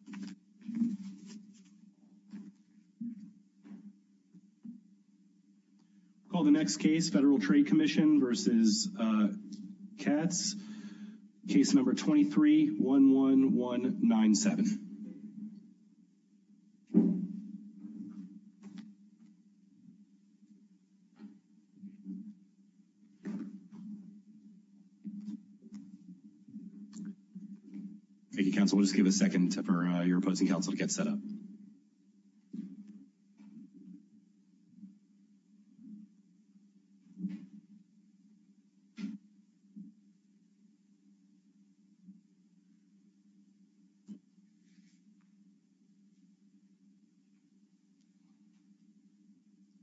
v. Katz cancellation of the voting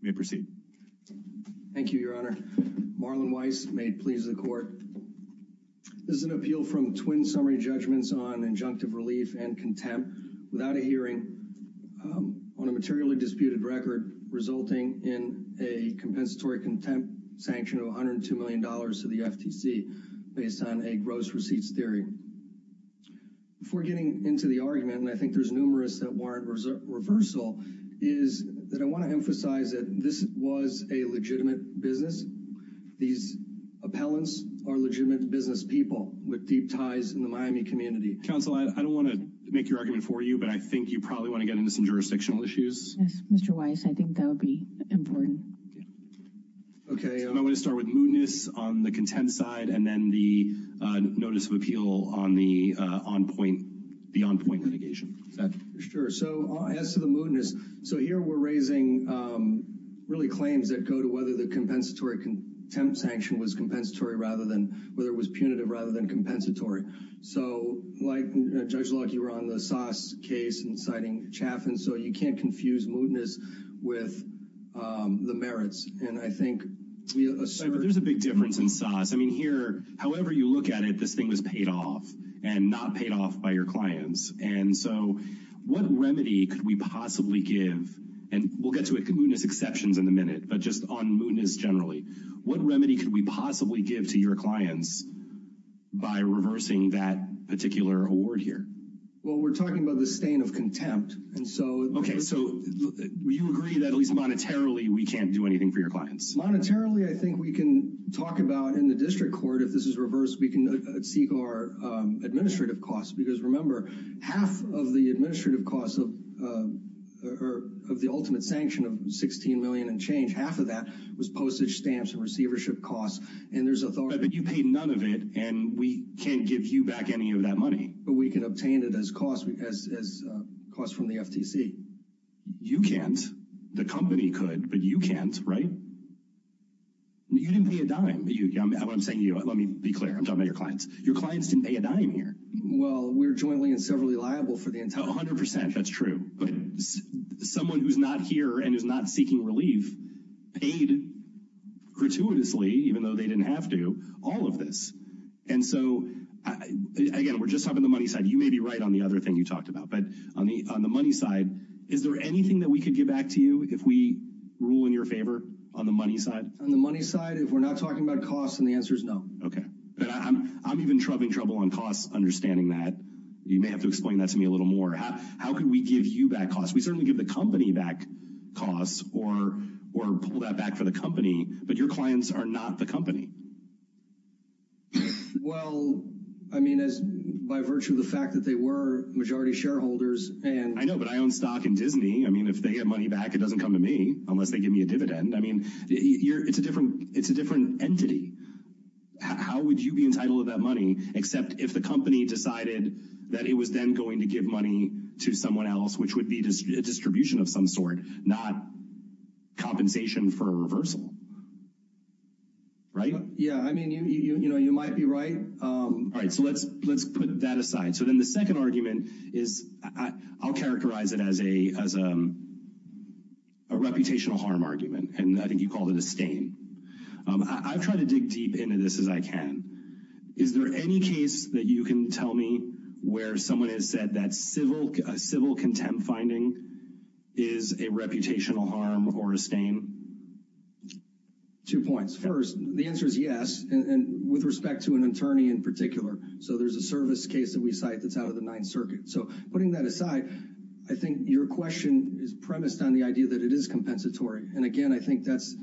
May proceed. Thank you, your honor. Marlon Weiss, may it please the court. This is an appeal from twin summary judgments on injunctive relief and contempt without a hearing on a materially disputed record resulting in a compensatory contempt sanction of $102 million to the FTC based on the It's something that the FTC will use for a long time on a gross receipts theory. Before getting into the argument, and I think there's numerous that warrant reversal, is that I want to emphasize that this was a legitimate business. These appellants are legitimate business people with deep ties in the Miami community. I don't want to make your argument for you, but I think you probably want to get into some jurisdictional issues. Yes, Mr. Weiss, I think that would be important. Okay, I want to start with mootness on the contempt side and then the notice of appeal on the on-point litigation. Sure, so as to the mootness, so here we're raising really claims that go to whether the compensatory contempt sanction was punitive rather than compensatory. So like Judge Locke, you were on the Saas case and citing Chaffin, so you can't confuse mootness with the merits. And I think we assert... But there's a big difference in Saas. I mean, here, however you look at it, this thing was paid off and not paid off by your clients. And so what remedy could we possibly give? And we'll get to mootness exceptions in a minute, but just on mootness generally. What remedy could we possibly give to your clients by reversing that particular award here? Well, we're talking about the stain of contempt. And so... Okay, so you agree that at least monetarily we can't do anything for your clients? Monetarily, I think we can talk about in the district court, if this is reversed, we can seek our administrative costs. Because remember, half of the administrative costs of the ultimate sanction of $16 million and change, half of that was postage stamps and receivership costs. And there's authority... But you paid none of it, and we can't give you back any of that money. But we can obtain it as costs from the FTC. You can't. The company could, but you can't, right? You didn't pay a dime. I'm saying to you, let me be clear, I'm talking about your clients. Your clients didn't pay a dime here. Well, we're jointly and severally liable for the entire... 100%, that's true. But someone who's not here and is not seeking relief paid gratuitously, even though they didn't have to, all of this. And so, again, we're just talking about the money side. You may be right on the other thing you talked about. But on the money side, is there anything that we could give back to you if we rule in your favor on the money side? On the money side, if we're not talking about costs, then the answer is no. Okay. But I'm even having trouble on costs understanding that. You may have to explain that to me a little more. How could we give you back costs? We certainly give the company back costs or pull that back for the company, but your clients are not the company. Well, I mean, by virtue of the fact that they were majority shareholders and... I know, but I own stock in Disney. I mean, if they get money back, it doesn't come to me unless they give me a dividend. I mean, it's a different entity. How would you be entitled to that money except if the company decided that it was then going to give money to someone else, which would be a distribution of some sort, not compensation for a reversal, right? Yeah, I mean, you know, you might be right. All right. So let's put that aside. So then the second argument is I'll characterize it as a reputational harm argument, and I think you called it a stain. I've tried to dig deep into this as I can. Is there any case that you can tell me where someone has said that civil contempt finding is a reputational harm or a stain? Two points. First, the answer is yes, and with respect to an attorney in particular. So there's a service case that we cite that's out of the Ninth Circuit. So putting that aside, I think your question is premised on the idea that it is compensatory. And, again, I think that's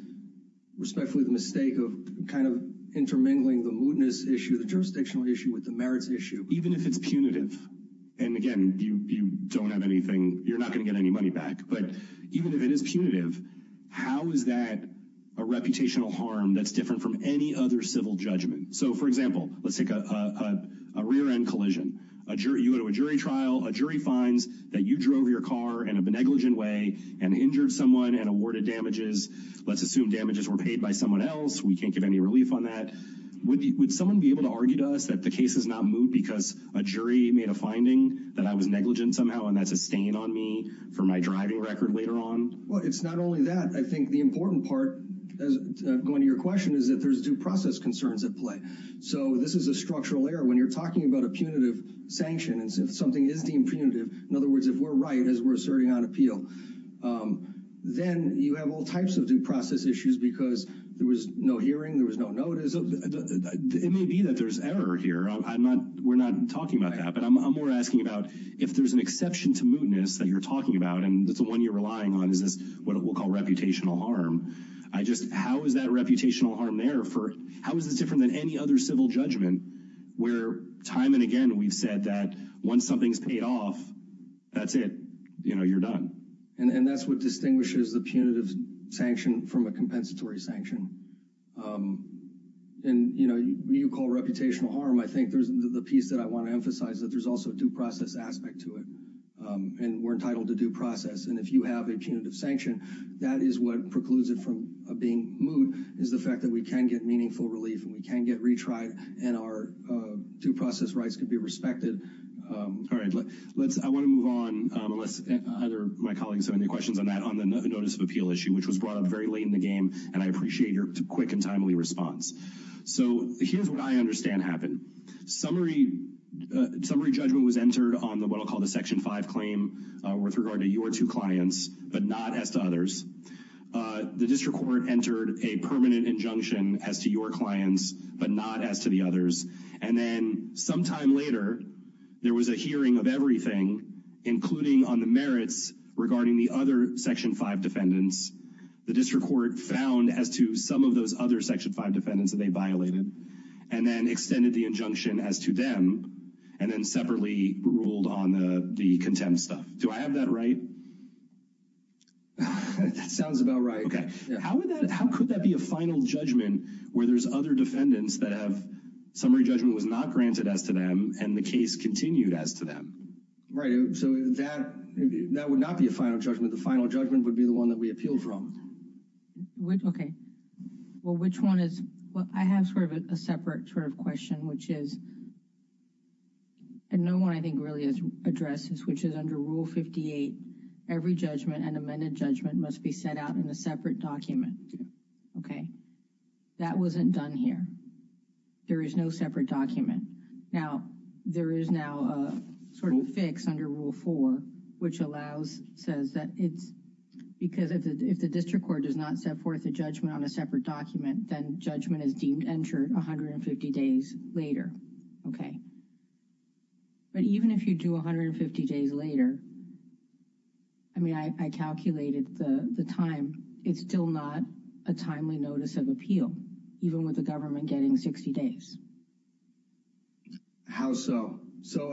respectfully the mistake of kind of intermingling the mootness issue, the jurisdictional issue with the merits issue. Even if it's punitive, and, again, you don't have anything, you're not going to get any money back, but even if it is punitive, how is that a reputational harm that's different from any other civil judgment? So, for example, let's take a rear-end collision. You go to a jury trial. A jury finds that you drove your car in a negligent way and injured someone and awarded damages. Let's assume damages were paid by someone else. We can't give any relief on that. Would someone be able to argue to us that the case is not moot because a jury made a finding that I was negligent somehow, and that's a stain on me for my driving record later on? Well, it's not only that. I think the important part, going to your question, is that there's due process concerns at play. So this is a structural error. When you're talking about a punitive sanction and something is deemed punitive, in other words, if we're right as we're asserting on appeal, then you have all types of due process issues because there was no hearing, there was no notice. It may be that there's error here. We're not talking about that, but I'm more asking about if there's an exception to mootness that you're talking about, and that's the one you're relying on, is this what we'll call reputational harm. How is that reputational harm there? How is this different than any other civil judgment where time and again we've said that once something's paid off, that's it. You know, you're done. And that's what distinguishes the punitive sanction from a compensatory sanction. And, you know, when you call reputational harm, I think there's the piece that I want to emphasize, that there's also a due process aspect to it, and we're entitled to due process. And if you have a punitive sanction, that is what precludes it from being moot, is the fact that we can get meaningful relief and we can get retried and our due process rights can be respected. All right. I want to move on, unless either of my colleagues have any questions on that, on the notice of appeal issue, which was brought up very late in the game, and I appreciate your quick and timely response. So here's what I understand happened. Summary judgment was entered on what I'll call the Section 5 claim with regard to your two clients, but not as to others. The district court entered a permanent injunction as to your clients, but not as to the others. And then sometime later, there was a hearing of everything, including on the merits regarding the other Section 5 defendants. The district court found as to some of those other Section 5 defendants that they violated and then extended the injunction as to them and then separately ruled on the contempt stuff. Do I have that right? That sounds about right. How could that be a final judgment where there's other defendants that have summary judgment was not granted as to them and the case continued as to them? Right. So that would not be a final judgment. The final judgment would be the one that we appeal from. Okay. Well, which one is what I have sort of a separate sort of question, which is. And no one I think really is addresses, which is under Rule 58. Every judgment and amended judgment must be set out in a separate document. Okay. That wasn't done here. There is no separate document. Now, there is now a sort of fix under Rule 4, which allows says that it's because if the district court does not set forth a judgment on a separate document, then judgment is deemed entered 150 days later. Okay. But even if you do 150 days later, I mean, I calculated the time. It's still not a timely notice of appeal, even with the government getting 60 days. How so? So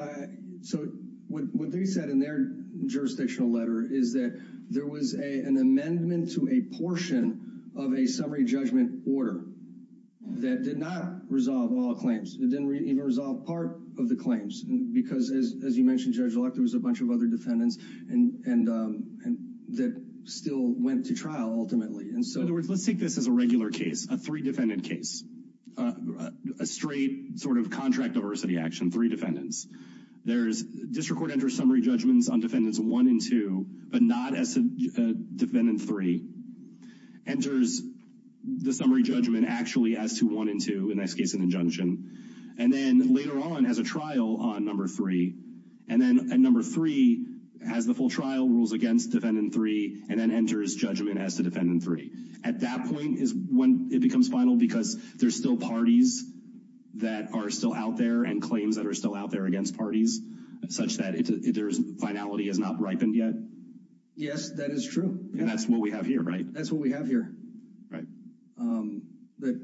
what they said in their jurisdictional letter is that there was an amendment to a portion of a summary judgment order that did not resolve all claims. It didn't even resolve part of the claims. Because as you mentioned, Judge Locke, there was a bunch of other defendants and that still went to trial ultimately. In other words, let's take this as a regular case, a three-defendant case, a straight sort of contract diversity action, three defendants. District court enters summary judgments on defendants 1 and 2, but not as defendant 3. Enters the summary judgment actually as to 1 and 2, in this case an injunction. And then later on, has a trial on number 3. And then at number 3, has the full trial, rules against defendant 3, and then enters judgment as to defendant 3. At that point is when it becomes final, because there's still parties that are still out there and claims that are still out there against parties, such that their finality has not ripened yet? Yes, that is true. And that's what we have here, right? That's what we have here. Right. That,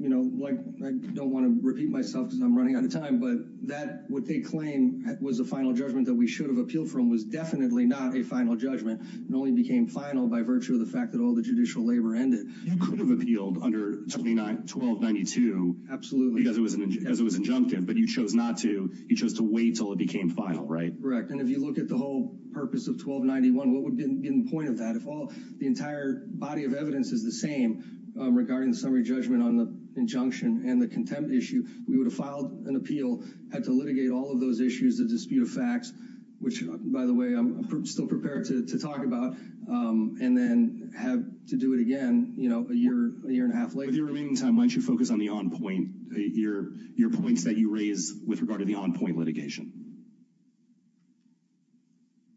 you know, like, I don't want to repeat myself because I'm running out of time. But that, what they claim was the final judgment that we should have appealed from was definitely not a final judgment. It only became final by virtue of the fact that all the judicial labor ended. You could have appealed under 1292. Absolutely. Because it was an injunction. But you chose not to. You chose to wait until it became final, right? Correct. And if you look at the whole purpose of 1291, what would be the point of that? If all the entire body of evidence is the same regarding the summary judgment on the injunction and the contempt issue, we would have filed an appeal, had to litigate all of those issues, the dispute of facts, which, by the way, I'm still prepared to talk about, and then have to do it again, you know, a year, a year and a half later. With your remaining time, why don't you focus on the on-point, your points that you raise with regard to the on-point litigation?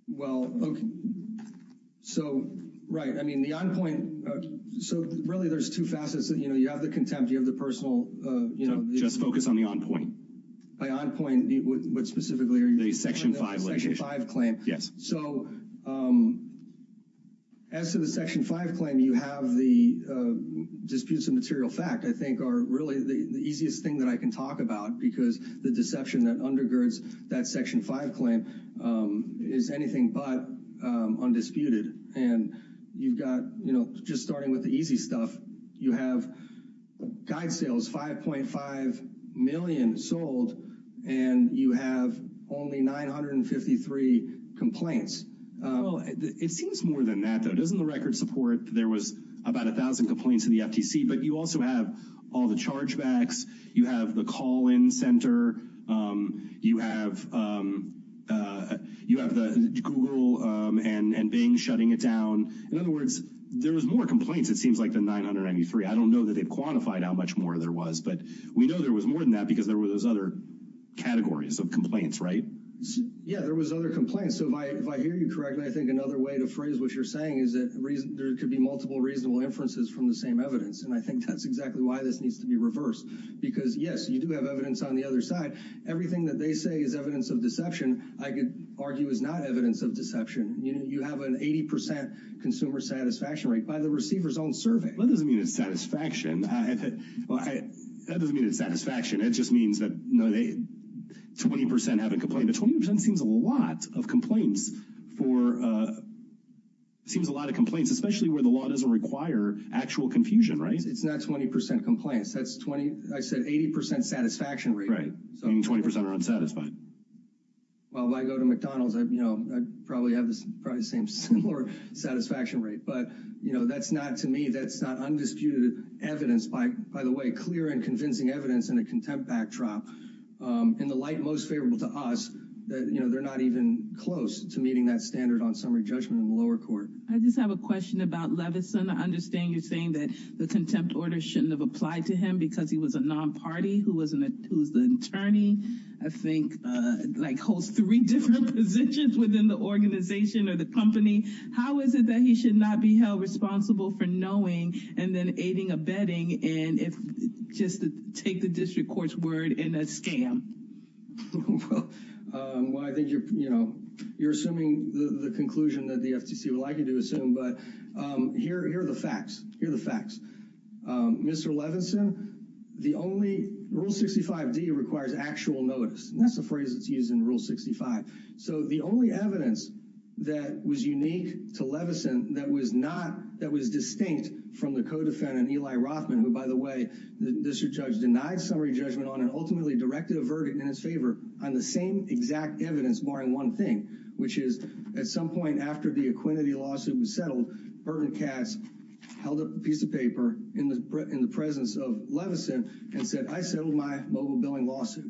Well, okay. So, right. I mean, the on-point, so really there's two facets. You know, you have the contempt, you have the personal, you know. Just focus on the on-point. My on-point, what specifically are you referring to? The Section 5 litigation. The Section 5 claim. Yes. So as to the Section 5 claim, you have the disputes of material fact, I think, are really the easiest thing that I can talk about because the deception that undergirds that Section 5 claim is anything but undisputed. And you've got, you know, just starting with the easy stuff, you have guide sales, 5.5 million sold, and you have only 953 complaints. Well, it seems more than that, though. Yeah, there was other complaints. So if I hear you correctly, I think another way to phrase what you're saying is that there could be multiple reasonable inferences from the same evidence. And I think that's exactly why this needs to be reversed because, yes, you do have evidence on the other side. Everything that they say is evidence of deception, I could argue is not evidence of deception. You have an 80% consumer satisfaction rate by the receiver's own survey. Well, that doesn't mean it's satisfaction. That doesn't mean it's satisfaction. It just means that, you know, 20% haven't complained. But 20% seems a lot of complaints for seems a lot of complaints, especially where the law doesn't require actual confusion, right? It's not 20% complaints. I said 80% satisfaction rate. Meaning 20% are unsatisfied. Well, if I go to McDonald's, you know, I'd probably have the same satisfaction rate. But, you know, that's not to me. That's not undisputed evidence. By the way, clear and convincing evidence in a contempt backdrop. In the light most favorable to us, you know, they're not even close to meeting that standard on summary judgment in the lower court. I just have a question about Levinson. I understand you're saying that the contempt order shouldn't have applied to him because he was a non-party who was the attorney. I think like holds three different positions within the organization or the company. How is it that he should not be held responsible for knowing and then aiding a betting and if just take the district court's word in a scam? Well, I think, you know, you're assuming the conclusion that the FTC would like you to assume. But here are the facts. Here are the facts. Mr. Levinson, the only rule 65 D requires actual notice. That's a phrase that's used in rule 65. So the only evidence that was unique to Levinson that was not, that was distinct from the co-defendant Eli Rothman, who, by the way, the district judge denied summary judgment on and ultimately directed a verdict in his favor on the same exact evidence barring one thing, which is at some point after the Aquinity lawsuit was settled, Bert and Cass held up a piece of paper in the presence of Levinson and said, I settled my mobile billing lawsuit.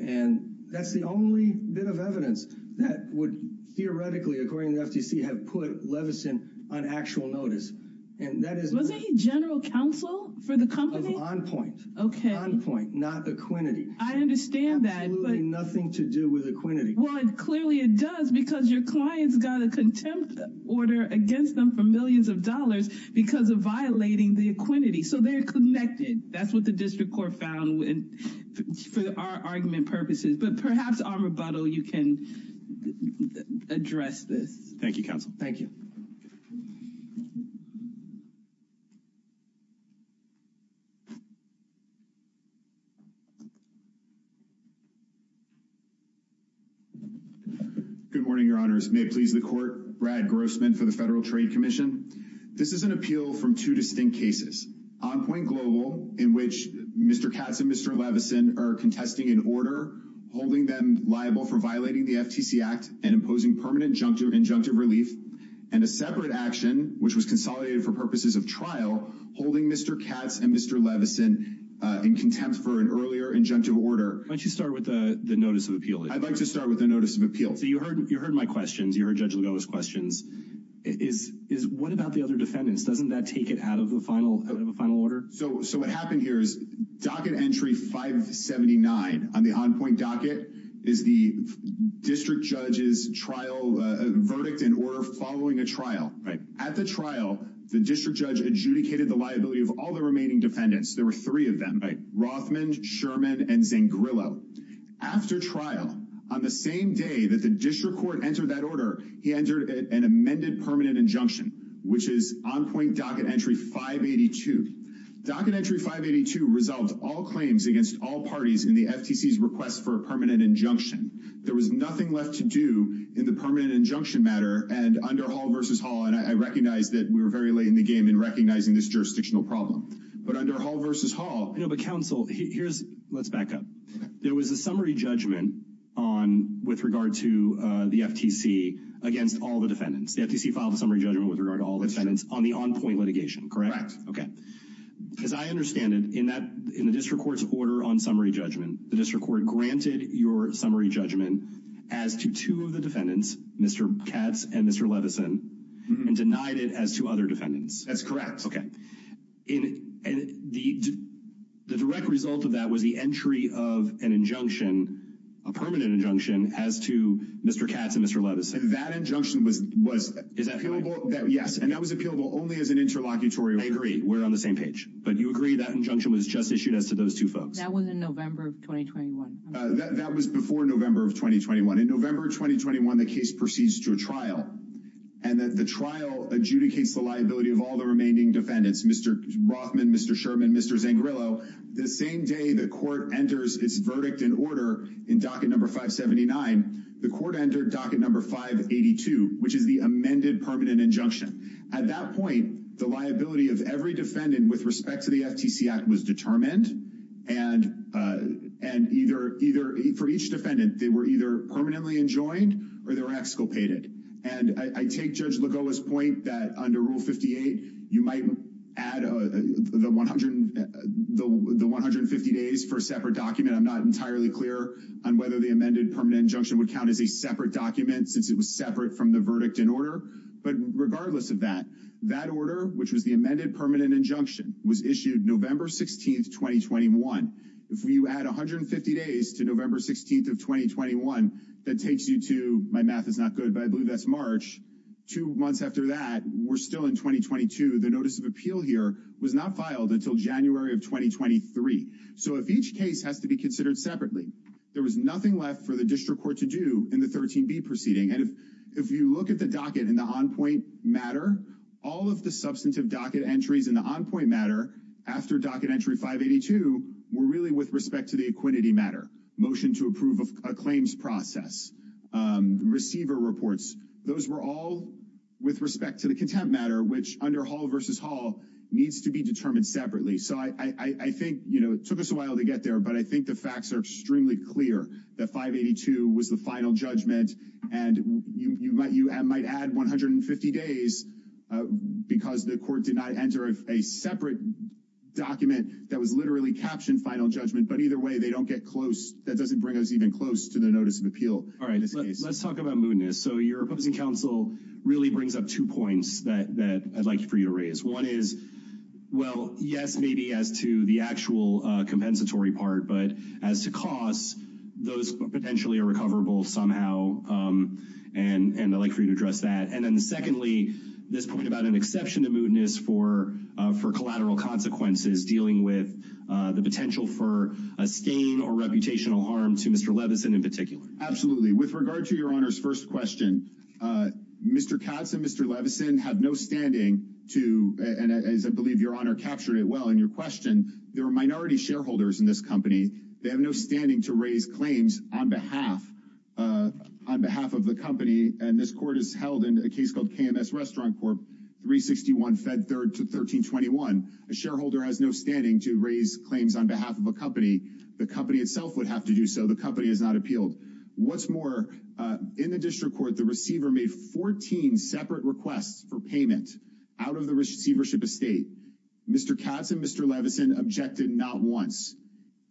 And that's the only bit of evidence that would theoretically, according to the FTC, have put Levinson on actual notice. And that is was a general counsel for the company on point. OK. Not the Aquinity. I understand that. But nothing to do with Aquinity. Well, clearly it does, because your clients got a contempt order against them for millions of dollars because of violating the Aquinity. So they're connected. That's what the district court found. And for our argument purposes, but perhaps our rebuttal, you can address this. Thank you, counsel. Thank you. Good morning, your honors. May it please the court. Brad Grossman for the Federal Trade Commission. This is an appeal from two distinct cases on point global in which Mr. Katz and Mr. Levinson are contesting an order holding them liable for violating the FTC Act and imposing permanent juncture injunctive relief and a separate action which was consolidated for purposes of trial holding Mr. Katz and Mr. Levinson in contempt for an earlier injunctive order. Why don't you start with the notice of appeal? I'd like to start with the notice of appeal. So you heard you heard my questions. You heard Judge Lugo's questions. Is is what about the other defendants? Doesn't that take it out of the final of a final order? So so what happened here is docket entry 579 on the on point docket is the district judge's trial verdict in order following a trial at the trial. The district judge adjudicated the liability of all the remaining defendants. There were three of them. Right. Rothman, Sherman and Zangrillo. After trial on the same day that the district court entered that order, he entered an amended permanent injunction, which is on point docket entry 582 docket entry 582 resolved all claims against all parties in the FTC's request for a permanent injunction. There was nothing left to do in the permanent injunction matter. And under Hall versus Hall, and I recognize that we were very late in the game in recognizing this jurisdictional problem. But under Hall versus Hall, you know, but counsel, here's let's back up. There was a summary judgment on with regard to the FTC against all the defendants. The FTC filed a summary judgment with regard to all the defendants on the on point litigation. Correct. OK. As I understand it, in that in the district court's order on summary judgment, the district court granted your summary judgment as to two of the defendants, Mr. Katz and Mr. Levinson, and denied it as to other defendants. That's correct. And the direct result of that was the entry of an injunction, a permanent injunction as to Mr. Katz and Mr. Levinson. And that injunction was was is that yes. And that was appealable only as an interlocutory. I agree. We're on the same page. But you agree that injunction was just issued as to those two folks. That was in November of 2021. That was before November of 2021. In November of 2021, the case proceeds to a trial and that the trial adjudicates the liability of all the remaining defendants, Mr. Rothman, Mr. Sherman, Mr. Zangrillo. The same day the court enters its verdict in order in docket number 579, the court entered docket number 582, which is the amended permanent injunction. At that point, the liability of every defendant with respect to the FTC Act was determined, and either for each defendant, they were either permanently enjoined or they were exculpated. And I take Judge Lagoa's point that under Rule 58, you might add the 150 days for a separate document. I'm not entirely clear on whether the amended permanent injunction would count as a separate document since it was separate from the verdict in order. But regardless of that, that order, which was the amended permanent injunction, was issued November 16th, 2021. If you add 150 days to November 16th of 2021, that takes you to my math is not good, but I believe that's March. Two months after that, we're still in 2022. The notice of appeal here was not filed until January of 2023. So if each case has to be considered separately, there was nothing left for the district court to do in the 13B proceeding. And if you look at the docket in the on-point matter, all of the substantive docket entries in the on-point matter after docket entry 582 were really with respect to the equinity matter, motion to approve a claims process, receiver reports. Those were all with respect to the contempt matter, which under Hall versus Hall needs to be determined separately. So I think it took us a while to get there, but I think the facts are extremely clear that 582 was the final judgment. And you might add 150 days because the court did not enter a separate document that was literally captioned final judgment. But either way, they don't get close. That doesn't bring us even close to the notice of appeal. All right. Let's talk about mootness. So your opposing counsel really brings up two points that I'd like for you to raise. One is, well, yes, maybe as to the actual compensatory part, but as to costs, those potentially are recoverable somehow. And I'd like for you to address that. And then secondly, this point about an exception to mootness for collateral consequences dealing with the potential for a stain or reputational harm to Mr. Levinson in particular. Absolutely. With regard to your honor's first question, Mr. Katz and Mr. Levinson have no standing to. And as I believe your honor captured it well in your question, there are minority shareholders in this company. They have no standing to raise claims on behalf on behalf of the company. And this court is held in a case called KMS Restaurant Corp. 361 Fed Third to 1321. A shareholder has no standing to raise claims on behalf of a company. The company itself would have to do so. The company has not appealed. What's more, in the district court, the receiver made 14 separate requests for payment out of the receivership estate. Mr. Katz and Mr. Levinson objected not once.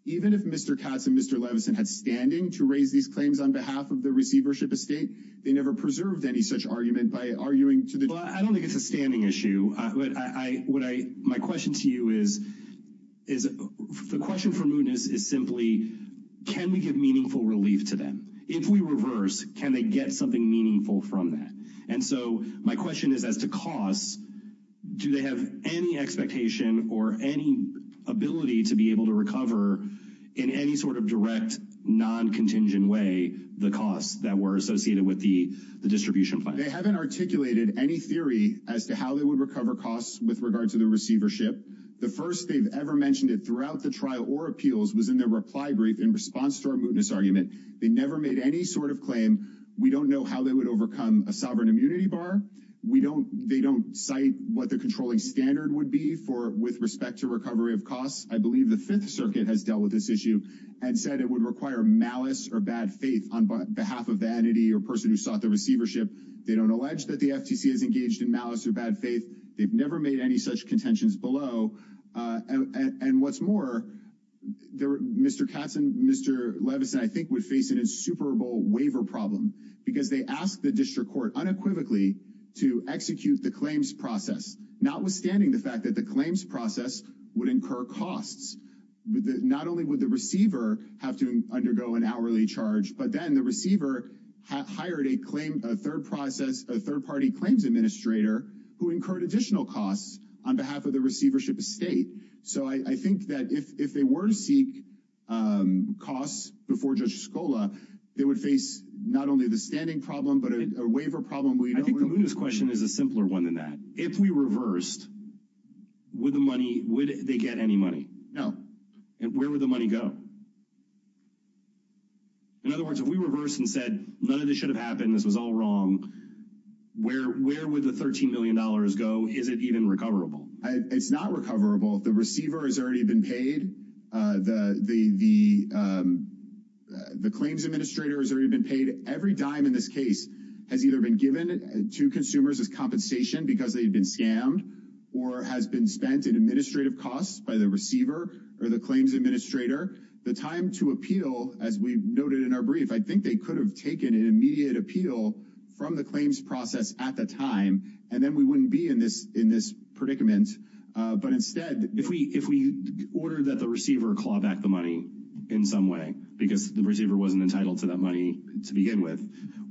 Even if Mr. Katz and Mr. Levinson had standing to raise these claims on behalf of the receivership estate, they never preserved any such argument by arguing to the. I don't think it's a standing issue. My question to you is, the question for Moon is simply, can we give meaningful relief to them? If we reverse, can they get something meaningful from that? And so my question is as to costs, do they have any expectation or any ability to be able to recover in any sort of direct non-contingent way the costs that were associated with the distribution plan? They haven't articulated any theory as to how they would recover costs with regard to the receivership. The first they've ever mentioned it throughout the trial or appeals was in their reply brief in response to our moodness argument. They never made any sort of claim. We don't know how they would overcome a sovereign immunity bar. We don't they don't cite what the controlling standard would be for with respect to recovery of costs. I believe the Fifth Circuit has dealt with this issue and said it would require malice or bad faith on behalf of vanity or person who sought the receivership. They don't allege that the FTC is engaged in malice or bad faith. They've never made any such contentions below. And what's more, Mr. Katz and Mr. Levinson, I think, would face an insuperable waiver problem because they asked the district court unequivocally to execute the claims process, notwithstanding the fact that the claims process would incur costs. Not only would the receiver have to undergo an hourly charge, but then the receiver hired a claim, a third process, a third party claims administrator who incurred additional costs on behalf of the receivership estate. So I think that if they were to seek costs before Judge Scola, they would face not only the standing problem, but a waiver problem. I think the Mooner's question is a simpler one than that. If we reversed with the money, would they get any money? No. And where would the money go? In other words, if we reverse and said none of this should have happened, this was all wrong, where would the $13 million go? Is it even recoverable? It's not recoverable. The receiver has already been paid. The claims administrator has already been paid. Every dime in this case has either been given to consumers as compensation because they've been scammed or has been spent in administrative costs by the receiver or the claims administrator. The time to appeal, as we noted in our brief, I think they could have taken an immediate appeal from the claims process at the time, and then we wouldn't be in this predicament. But instead, if we order that the receiver claw back the money in some way because the receiver wasn't entitled to that money to begin with,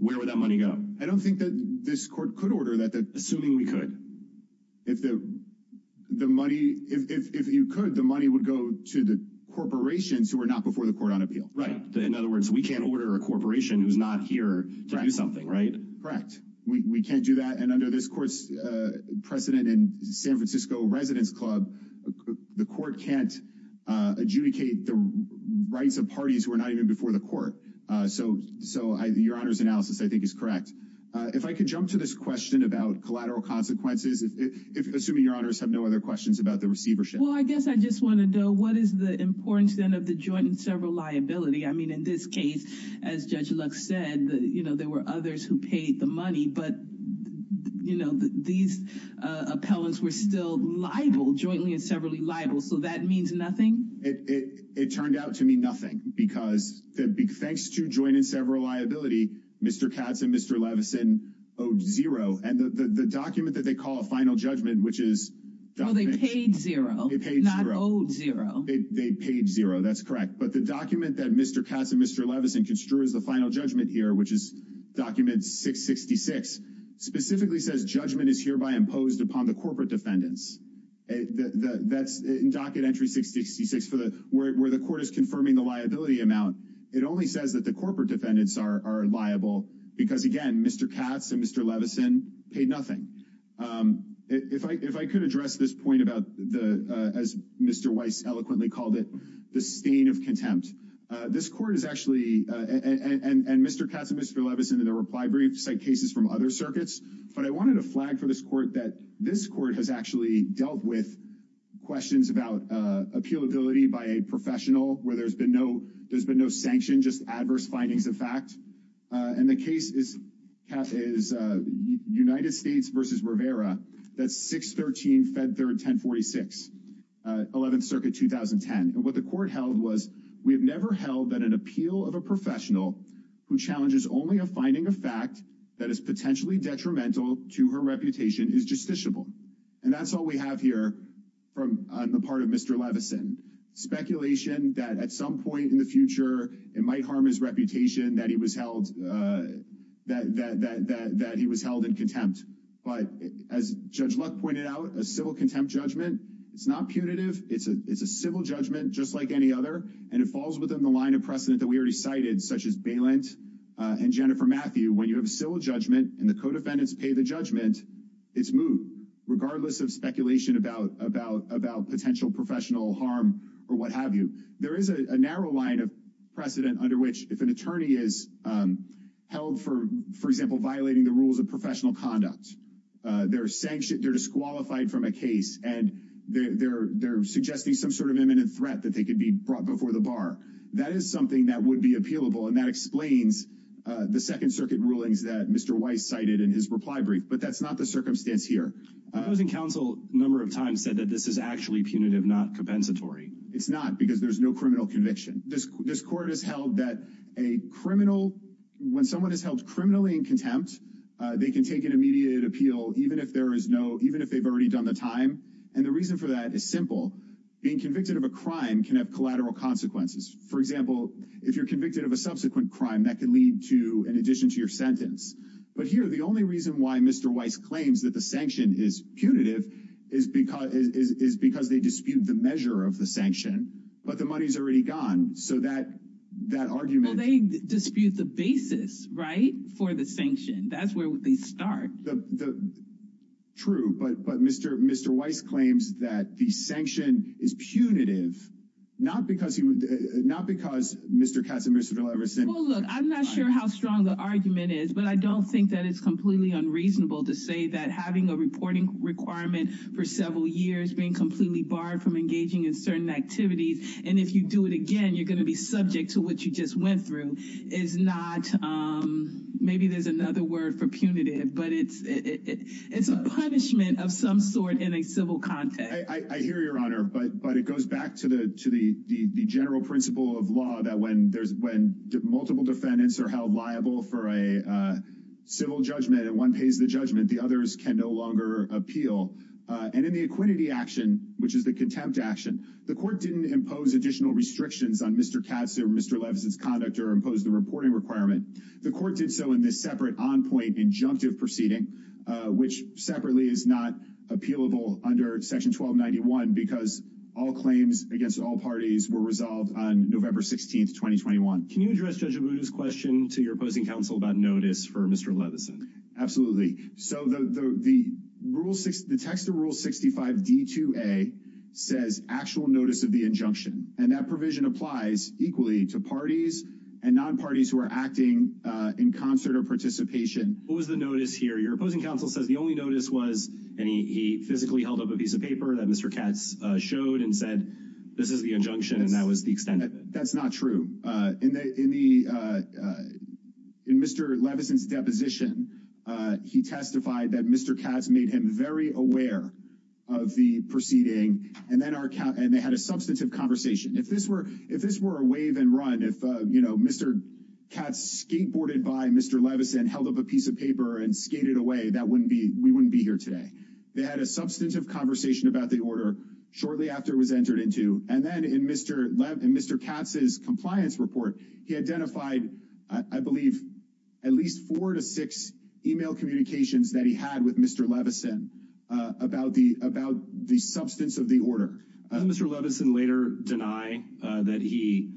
where would that money go? I don't think that this court could order that. Assuming we could. If the money, if you could, the money would go to the corporations who were not before the court on appeal. Right. In other words, we can't order a corporation who's not here to do something, right? Correct. We can't do that. And under this court's precedent in San Francisco Residence Club, the court can't adjudicate the rights of parties who are not even before the court. So so your honor's analysis, I think, is correct. If I could jump to this question about collateral consequences, assuming your honors have no other questions about the receivership. Well, I guess I just want to know what is the importance then of the joint and several liability? I mean, in this case, as Judge Lux said, you know, there were others who paid the money. But, you know, these appellants were still liable jointly and severally liable. So that means nothing. It turned out to mean nothing because thanks to joint and several liability, Mr. Katz and Mr. Levinson owed zero. And the document that they call a final judgment, which is. Well, they paid zero. They paid zero. They paid zero. That's correct. But the document that Mr. Katz and Mr. Levinson construes the final judgment here, which is document 666, specifically says judgment is hereby imposed upon the corporate defendants. That's in docket entry 666 for the where the court is confirming the liability amount. It only says that the corporate defendants are liable because, again, Mr. Katz and Mr. Levinson paid nothing. If I if I could address this point about the as Mr. Weiss eloquently called it the stain of contempt, this court is actually and Mr. Katz and Mr. Levinson in the reply brief cite cases from other circuits. But I wanted to flag for this court that this court has actually dealt with questions about appeal ability by a professional where there's been no there's been no sanction, just adverse findings of fact. And the case is is United States versus Rivera. That's 613 Fed third 1046 11th Circuit 2010. And what the court held was we have never held that an appeal of a professional who challenges only a finding of fact that is potentially detrimental to her reputation is justiciable. And that's all we have here from the part of Mr. Levinson speculation that at some point in the future, it might harm his reputation that he was held that that that that he was held in contempt. But as Judge Luck pointed out, a civil contempt judgment, it's not punitive. It's a it's a civil judgment, just like any other. And it falls within the line of precedent that we already cited, such as bailant and Jennifer Matthew. When you have a civil judgment and the codefendants pay the judgment, it's moved regardless of speculation about about about potential professional harm or what have you. There is a narrow line of precedent under which if an attorney is held for, for example, violating the rules of professional conduct, they're sanctioned. They're disqualified from a case and they're they're suggesting some sort of imminent threat that they could be brought before the bar. That is something that would be appealable. And that explains the Second Circuit rulings that Mr. Weiss cited in his reply brief. But that's not the circumstance here. Housing Council number of times said that this is actually punitive, not compensatory. It's not because there's no criminal conviction. This court has held that a criminal when someone is held criminally in contempt, they can take an immediate appeal, even if there is no even if they've already done the time. And the reason for that is simple. Being convicted of a crime can have collateral consequences. For example, if you're convicted of a subsequent crime, that can lead to an addition to your sentence. But here, the only reason why Mr. Weiss claims that the sanction is punitive is because is because they dispute the measure of the sanction. But the money's already gone. So that that argument, they dispute the basis, right? For the sanction. That's where they start. The true. But but Mr. Mr. Weiss claims that the sanction is punitive, not because he would not because Mr. Katz and Mr. I'm not sure how strong the argument is, but I don't think that it's completely unreasonable to say that having a reporting requirement for several years being completely barred from engaging in certain activities. And if you do it again, you're going to be subject to what you just went through is not maybe there's another word for punitive, but it's it's a punishment of some sort in a civil context. I hear your honor. But but it goes back to the to the general principle of law that when there's when multiple defendants are held liable for a civil judgment and one pays the judgment, the others can no longer appeal. And in the equity action, which is the contempt action, the court didn't impose additional restrictions on Mr. Katz or Mr. I don't remember that Mr. Katz showed and said this is the injunction, and that was the extent of that. That's not true. In the in Mr. Levinson's deposition, he testified that Mr. Katz made him very aware of the proceeding. And then they had a substantive conversation. If this were if this were a wave and run, if, you know, Mr. Katz skateboarded by Mr. Levinson held up a piece of paper and skated away. That wouldn't be we wouldn't be here today. They had a substantive conversation about the order shortly after it was entered into. And then in Mr. Mr. Katz's compliance report, he identified, I believe, at least four to six email communications that he had with Mr. Levinson about the about the substance of the order. Mr. Levinson later deny that he,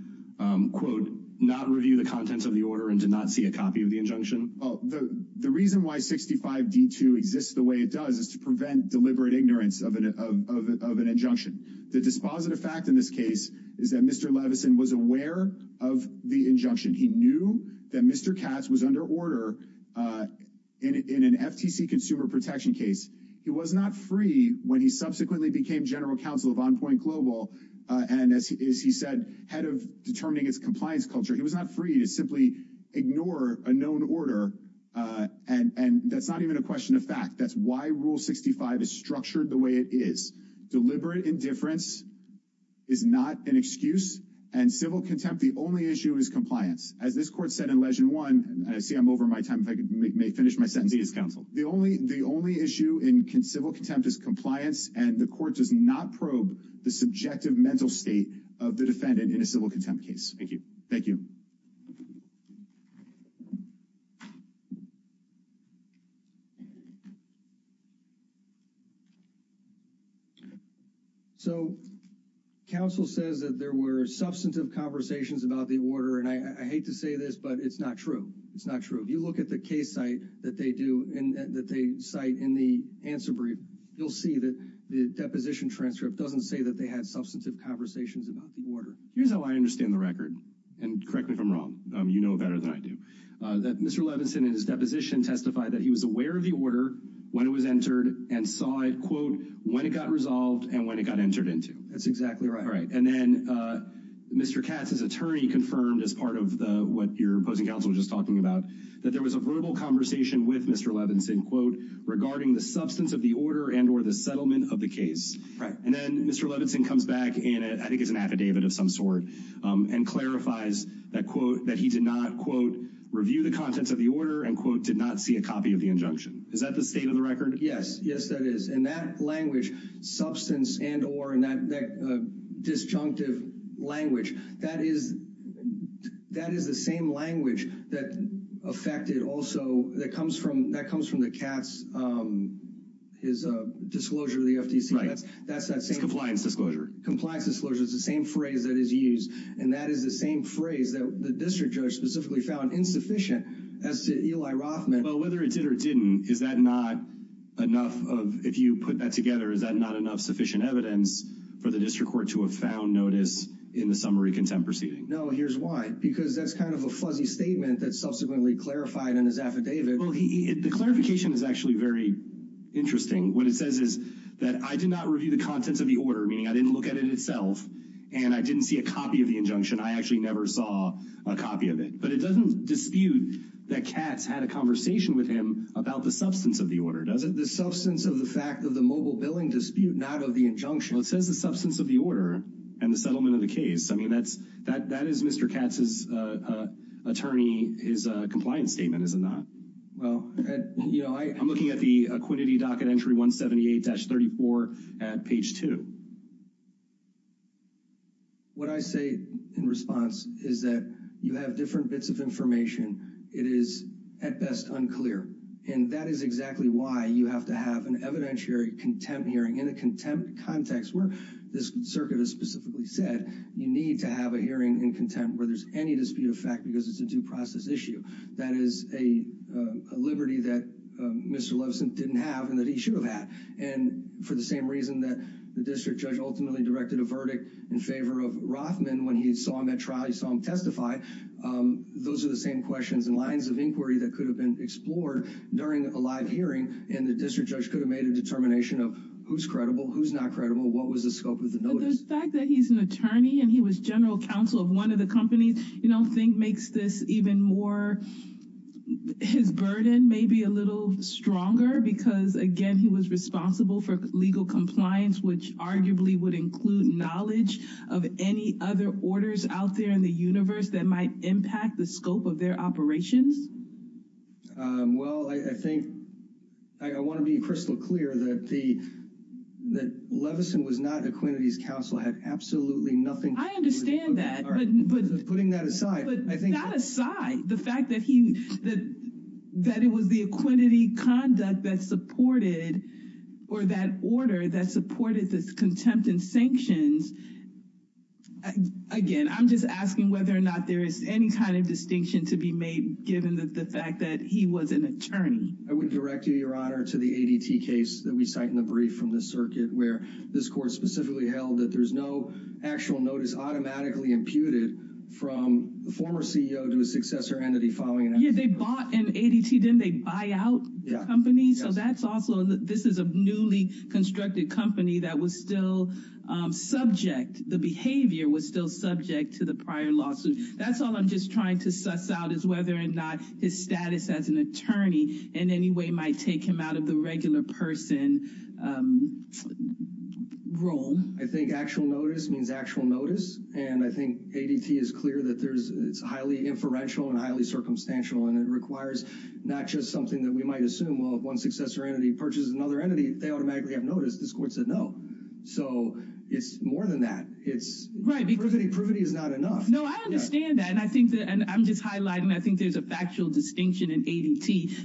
quote, not review the contents of the order and did not see a copy of the injunction. The reason why 65 D2 exists the way it does is to prevent deliberate ignorance of an injunction. The dispositive fact in this case is that Mr. Levinson was aware of the injunction. He knew that Mr. Katz was under order in an FTC consumer protection case. He was not free when he subsequently became general counsel of on point global. And as he said, head of determining its compliance culture, he was not free to simply ignore a known order. And that's not even a question of fact. That's why rule 65 is structured the way it is. Deliberate indifference. Is not an excuse and civil contempt. The only issue is compliance. As this court said in legend one, I see I'm over my time. I may finish my sentence. He is counsel. The only the only issue in civil contempt is compliance. And the court does not probe the subjective mental state of the defendant in a civil contempt case. Thank you. Thank you. So council says that there were substantive conversations about the order, and I hate to say this, but it's not true. It's not true. If you look at the case site that they do and that they cite in the answer brief, you'll see that the deposition transcript doesn't say that they had substantive conversations about the order. Here's how I understand the record and correct me if I'm wrong. You know better than I do that Mr. Levinson in his deposition testified that he was aware of the order when it was entered and saw it, quote, when it got resolved and when it got entered into. That's exactly right. Right. And then Mr. Katz, his attorney confirmed as part of the what your opposing counsel just talking about that there was a verbal conversation with Mr. Levinson, quote, regarding the substance of the order and or the settlement of the case. Right. And then Mr. Levinson comes back and I think it's an affidavit of some sort and clarifies that, quote, that he did not, quote, review the contents of the order and, quote, did not see a copy of the injunction. Is that the state of the record? Yes. Yes, that is. And that language, substance and or, and that disjunctive language, that is the same language that affected also that comes from the Katz, his disclosure to the FTC. That's that same. Compliance disclosure. Compliance disclosure is the same phrase that is used and that is the same phrase that the district judge specifically found insufficient as to Eli Rothman. Well, whether it did or didn't, is that not enough of if you put that together, is that not enough sufficient evidence for the district court to have found notice in the summary contempt proceeding? No. Here's why, because that's kind of a fuzzy statement that subsequently clarified in his affidavit. Well, the clarification is actually very interesting. What it says is that I did not review the contents of the order, meaning I didn't look at it itself and I didn't see a copy of the I actually never saw a copy of it, but it doesn't dispute that Katz had a conversation with him about the substance of the order, does it? The substance of the fact of the mobile billing dispute, not of the injunction. Well, it says the substance of the order and the settlement of the case. I mean, that is Mr. Katz's attorney, his compliance statement, is it not? Well, you know, I'm looking at the Aquinity Docket Entry 178-34 at page 2. What I say in response is that you have different bits of information. It is at best unclear, and that is exactly why you have to have an evidentiary contempt hearing in a contempt context where this circuit has specifically said you need to have a hearing in contempt where there's any dispute of fact because it's a due process issue. That is a liberty that Mr. Levinson didn't have and that he should have had. And for the same reason that the district judge ultimately directed a verdict in favor of Rothman when he saw him at trial, he saw him testify. Those are the same questions and lines of inquiry that could have been explored during a live hearing, and the district judge could have made a determination of who's credible, who's not credible, what was the scope of the notice. But the fact that he's an attorney and he was general counsel of one of the companies, you know, I think makes this even more, his burden maybe a little stronger because, again, he was responsible for legal compliance, which arguably would include knowledge of any other orders out there in the universe that might impact the scope of their operations. Well, I think I want to be crystal clear that Levinson was not Aquinity's counsel, had absolutely nothing to do with it. I understand that. But putting that aside. But not aside. The fact that he, that it was the Aquinity conduct that supported or that order that supported this contempt and sanctions, again, I'm just asking whether or not there is any kind of distinction to be made given the fact that he was an attorney. I would direct you, Your Honor, to the ADT case that we cite in the brief from the circuit where this court specifically held that there's no actual notice automatically imputed from the former CEO to a successor entity following an accident. Yeah, they bought an ADT, didn't they buy out the company? So that's also, this is a newly constructed company that was still subject, the behavior was still subject to the prior lawsuit. That's all I'm just trying to suss out is whether or not his status as an attorney in any way might take him out of the regular person role. I think actual notice means actual notice. And I think ADT is clear that there's, it's highly inferential and highly circumstantial. And it requires not just something that we might assume, well, if one successor entity purchases another entity, they automatically have notice. This court said no. So it's more than that. Privity is not enough. No, I understand that. And I'm just highlighting, I think there's a factual distinction in ADT that it's not enough.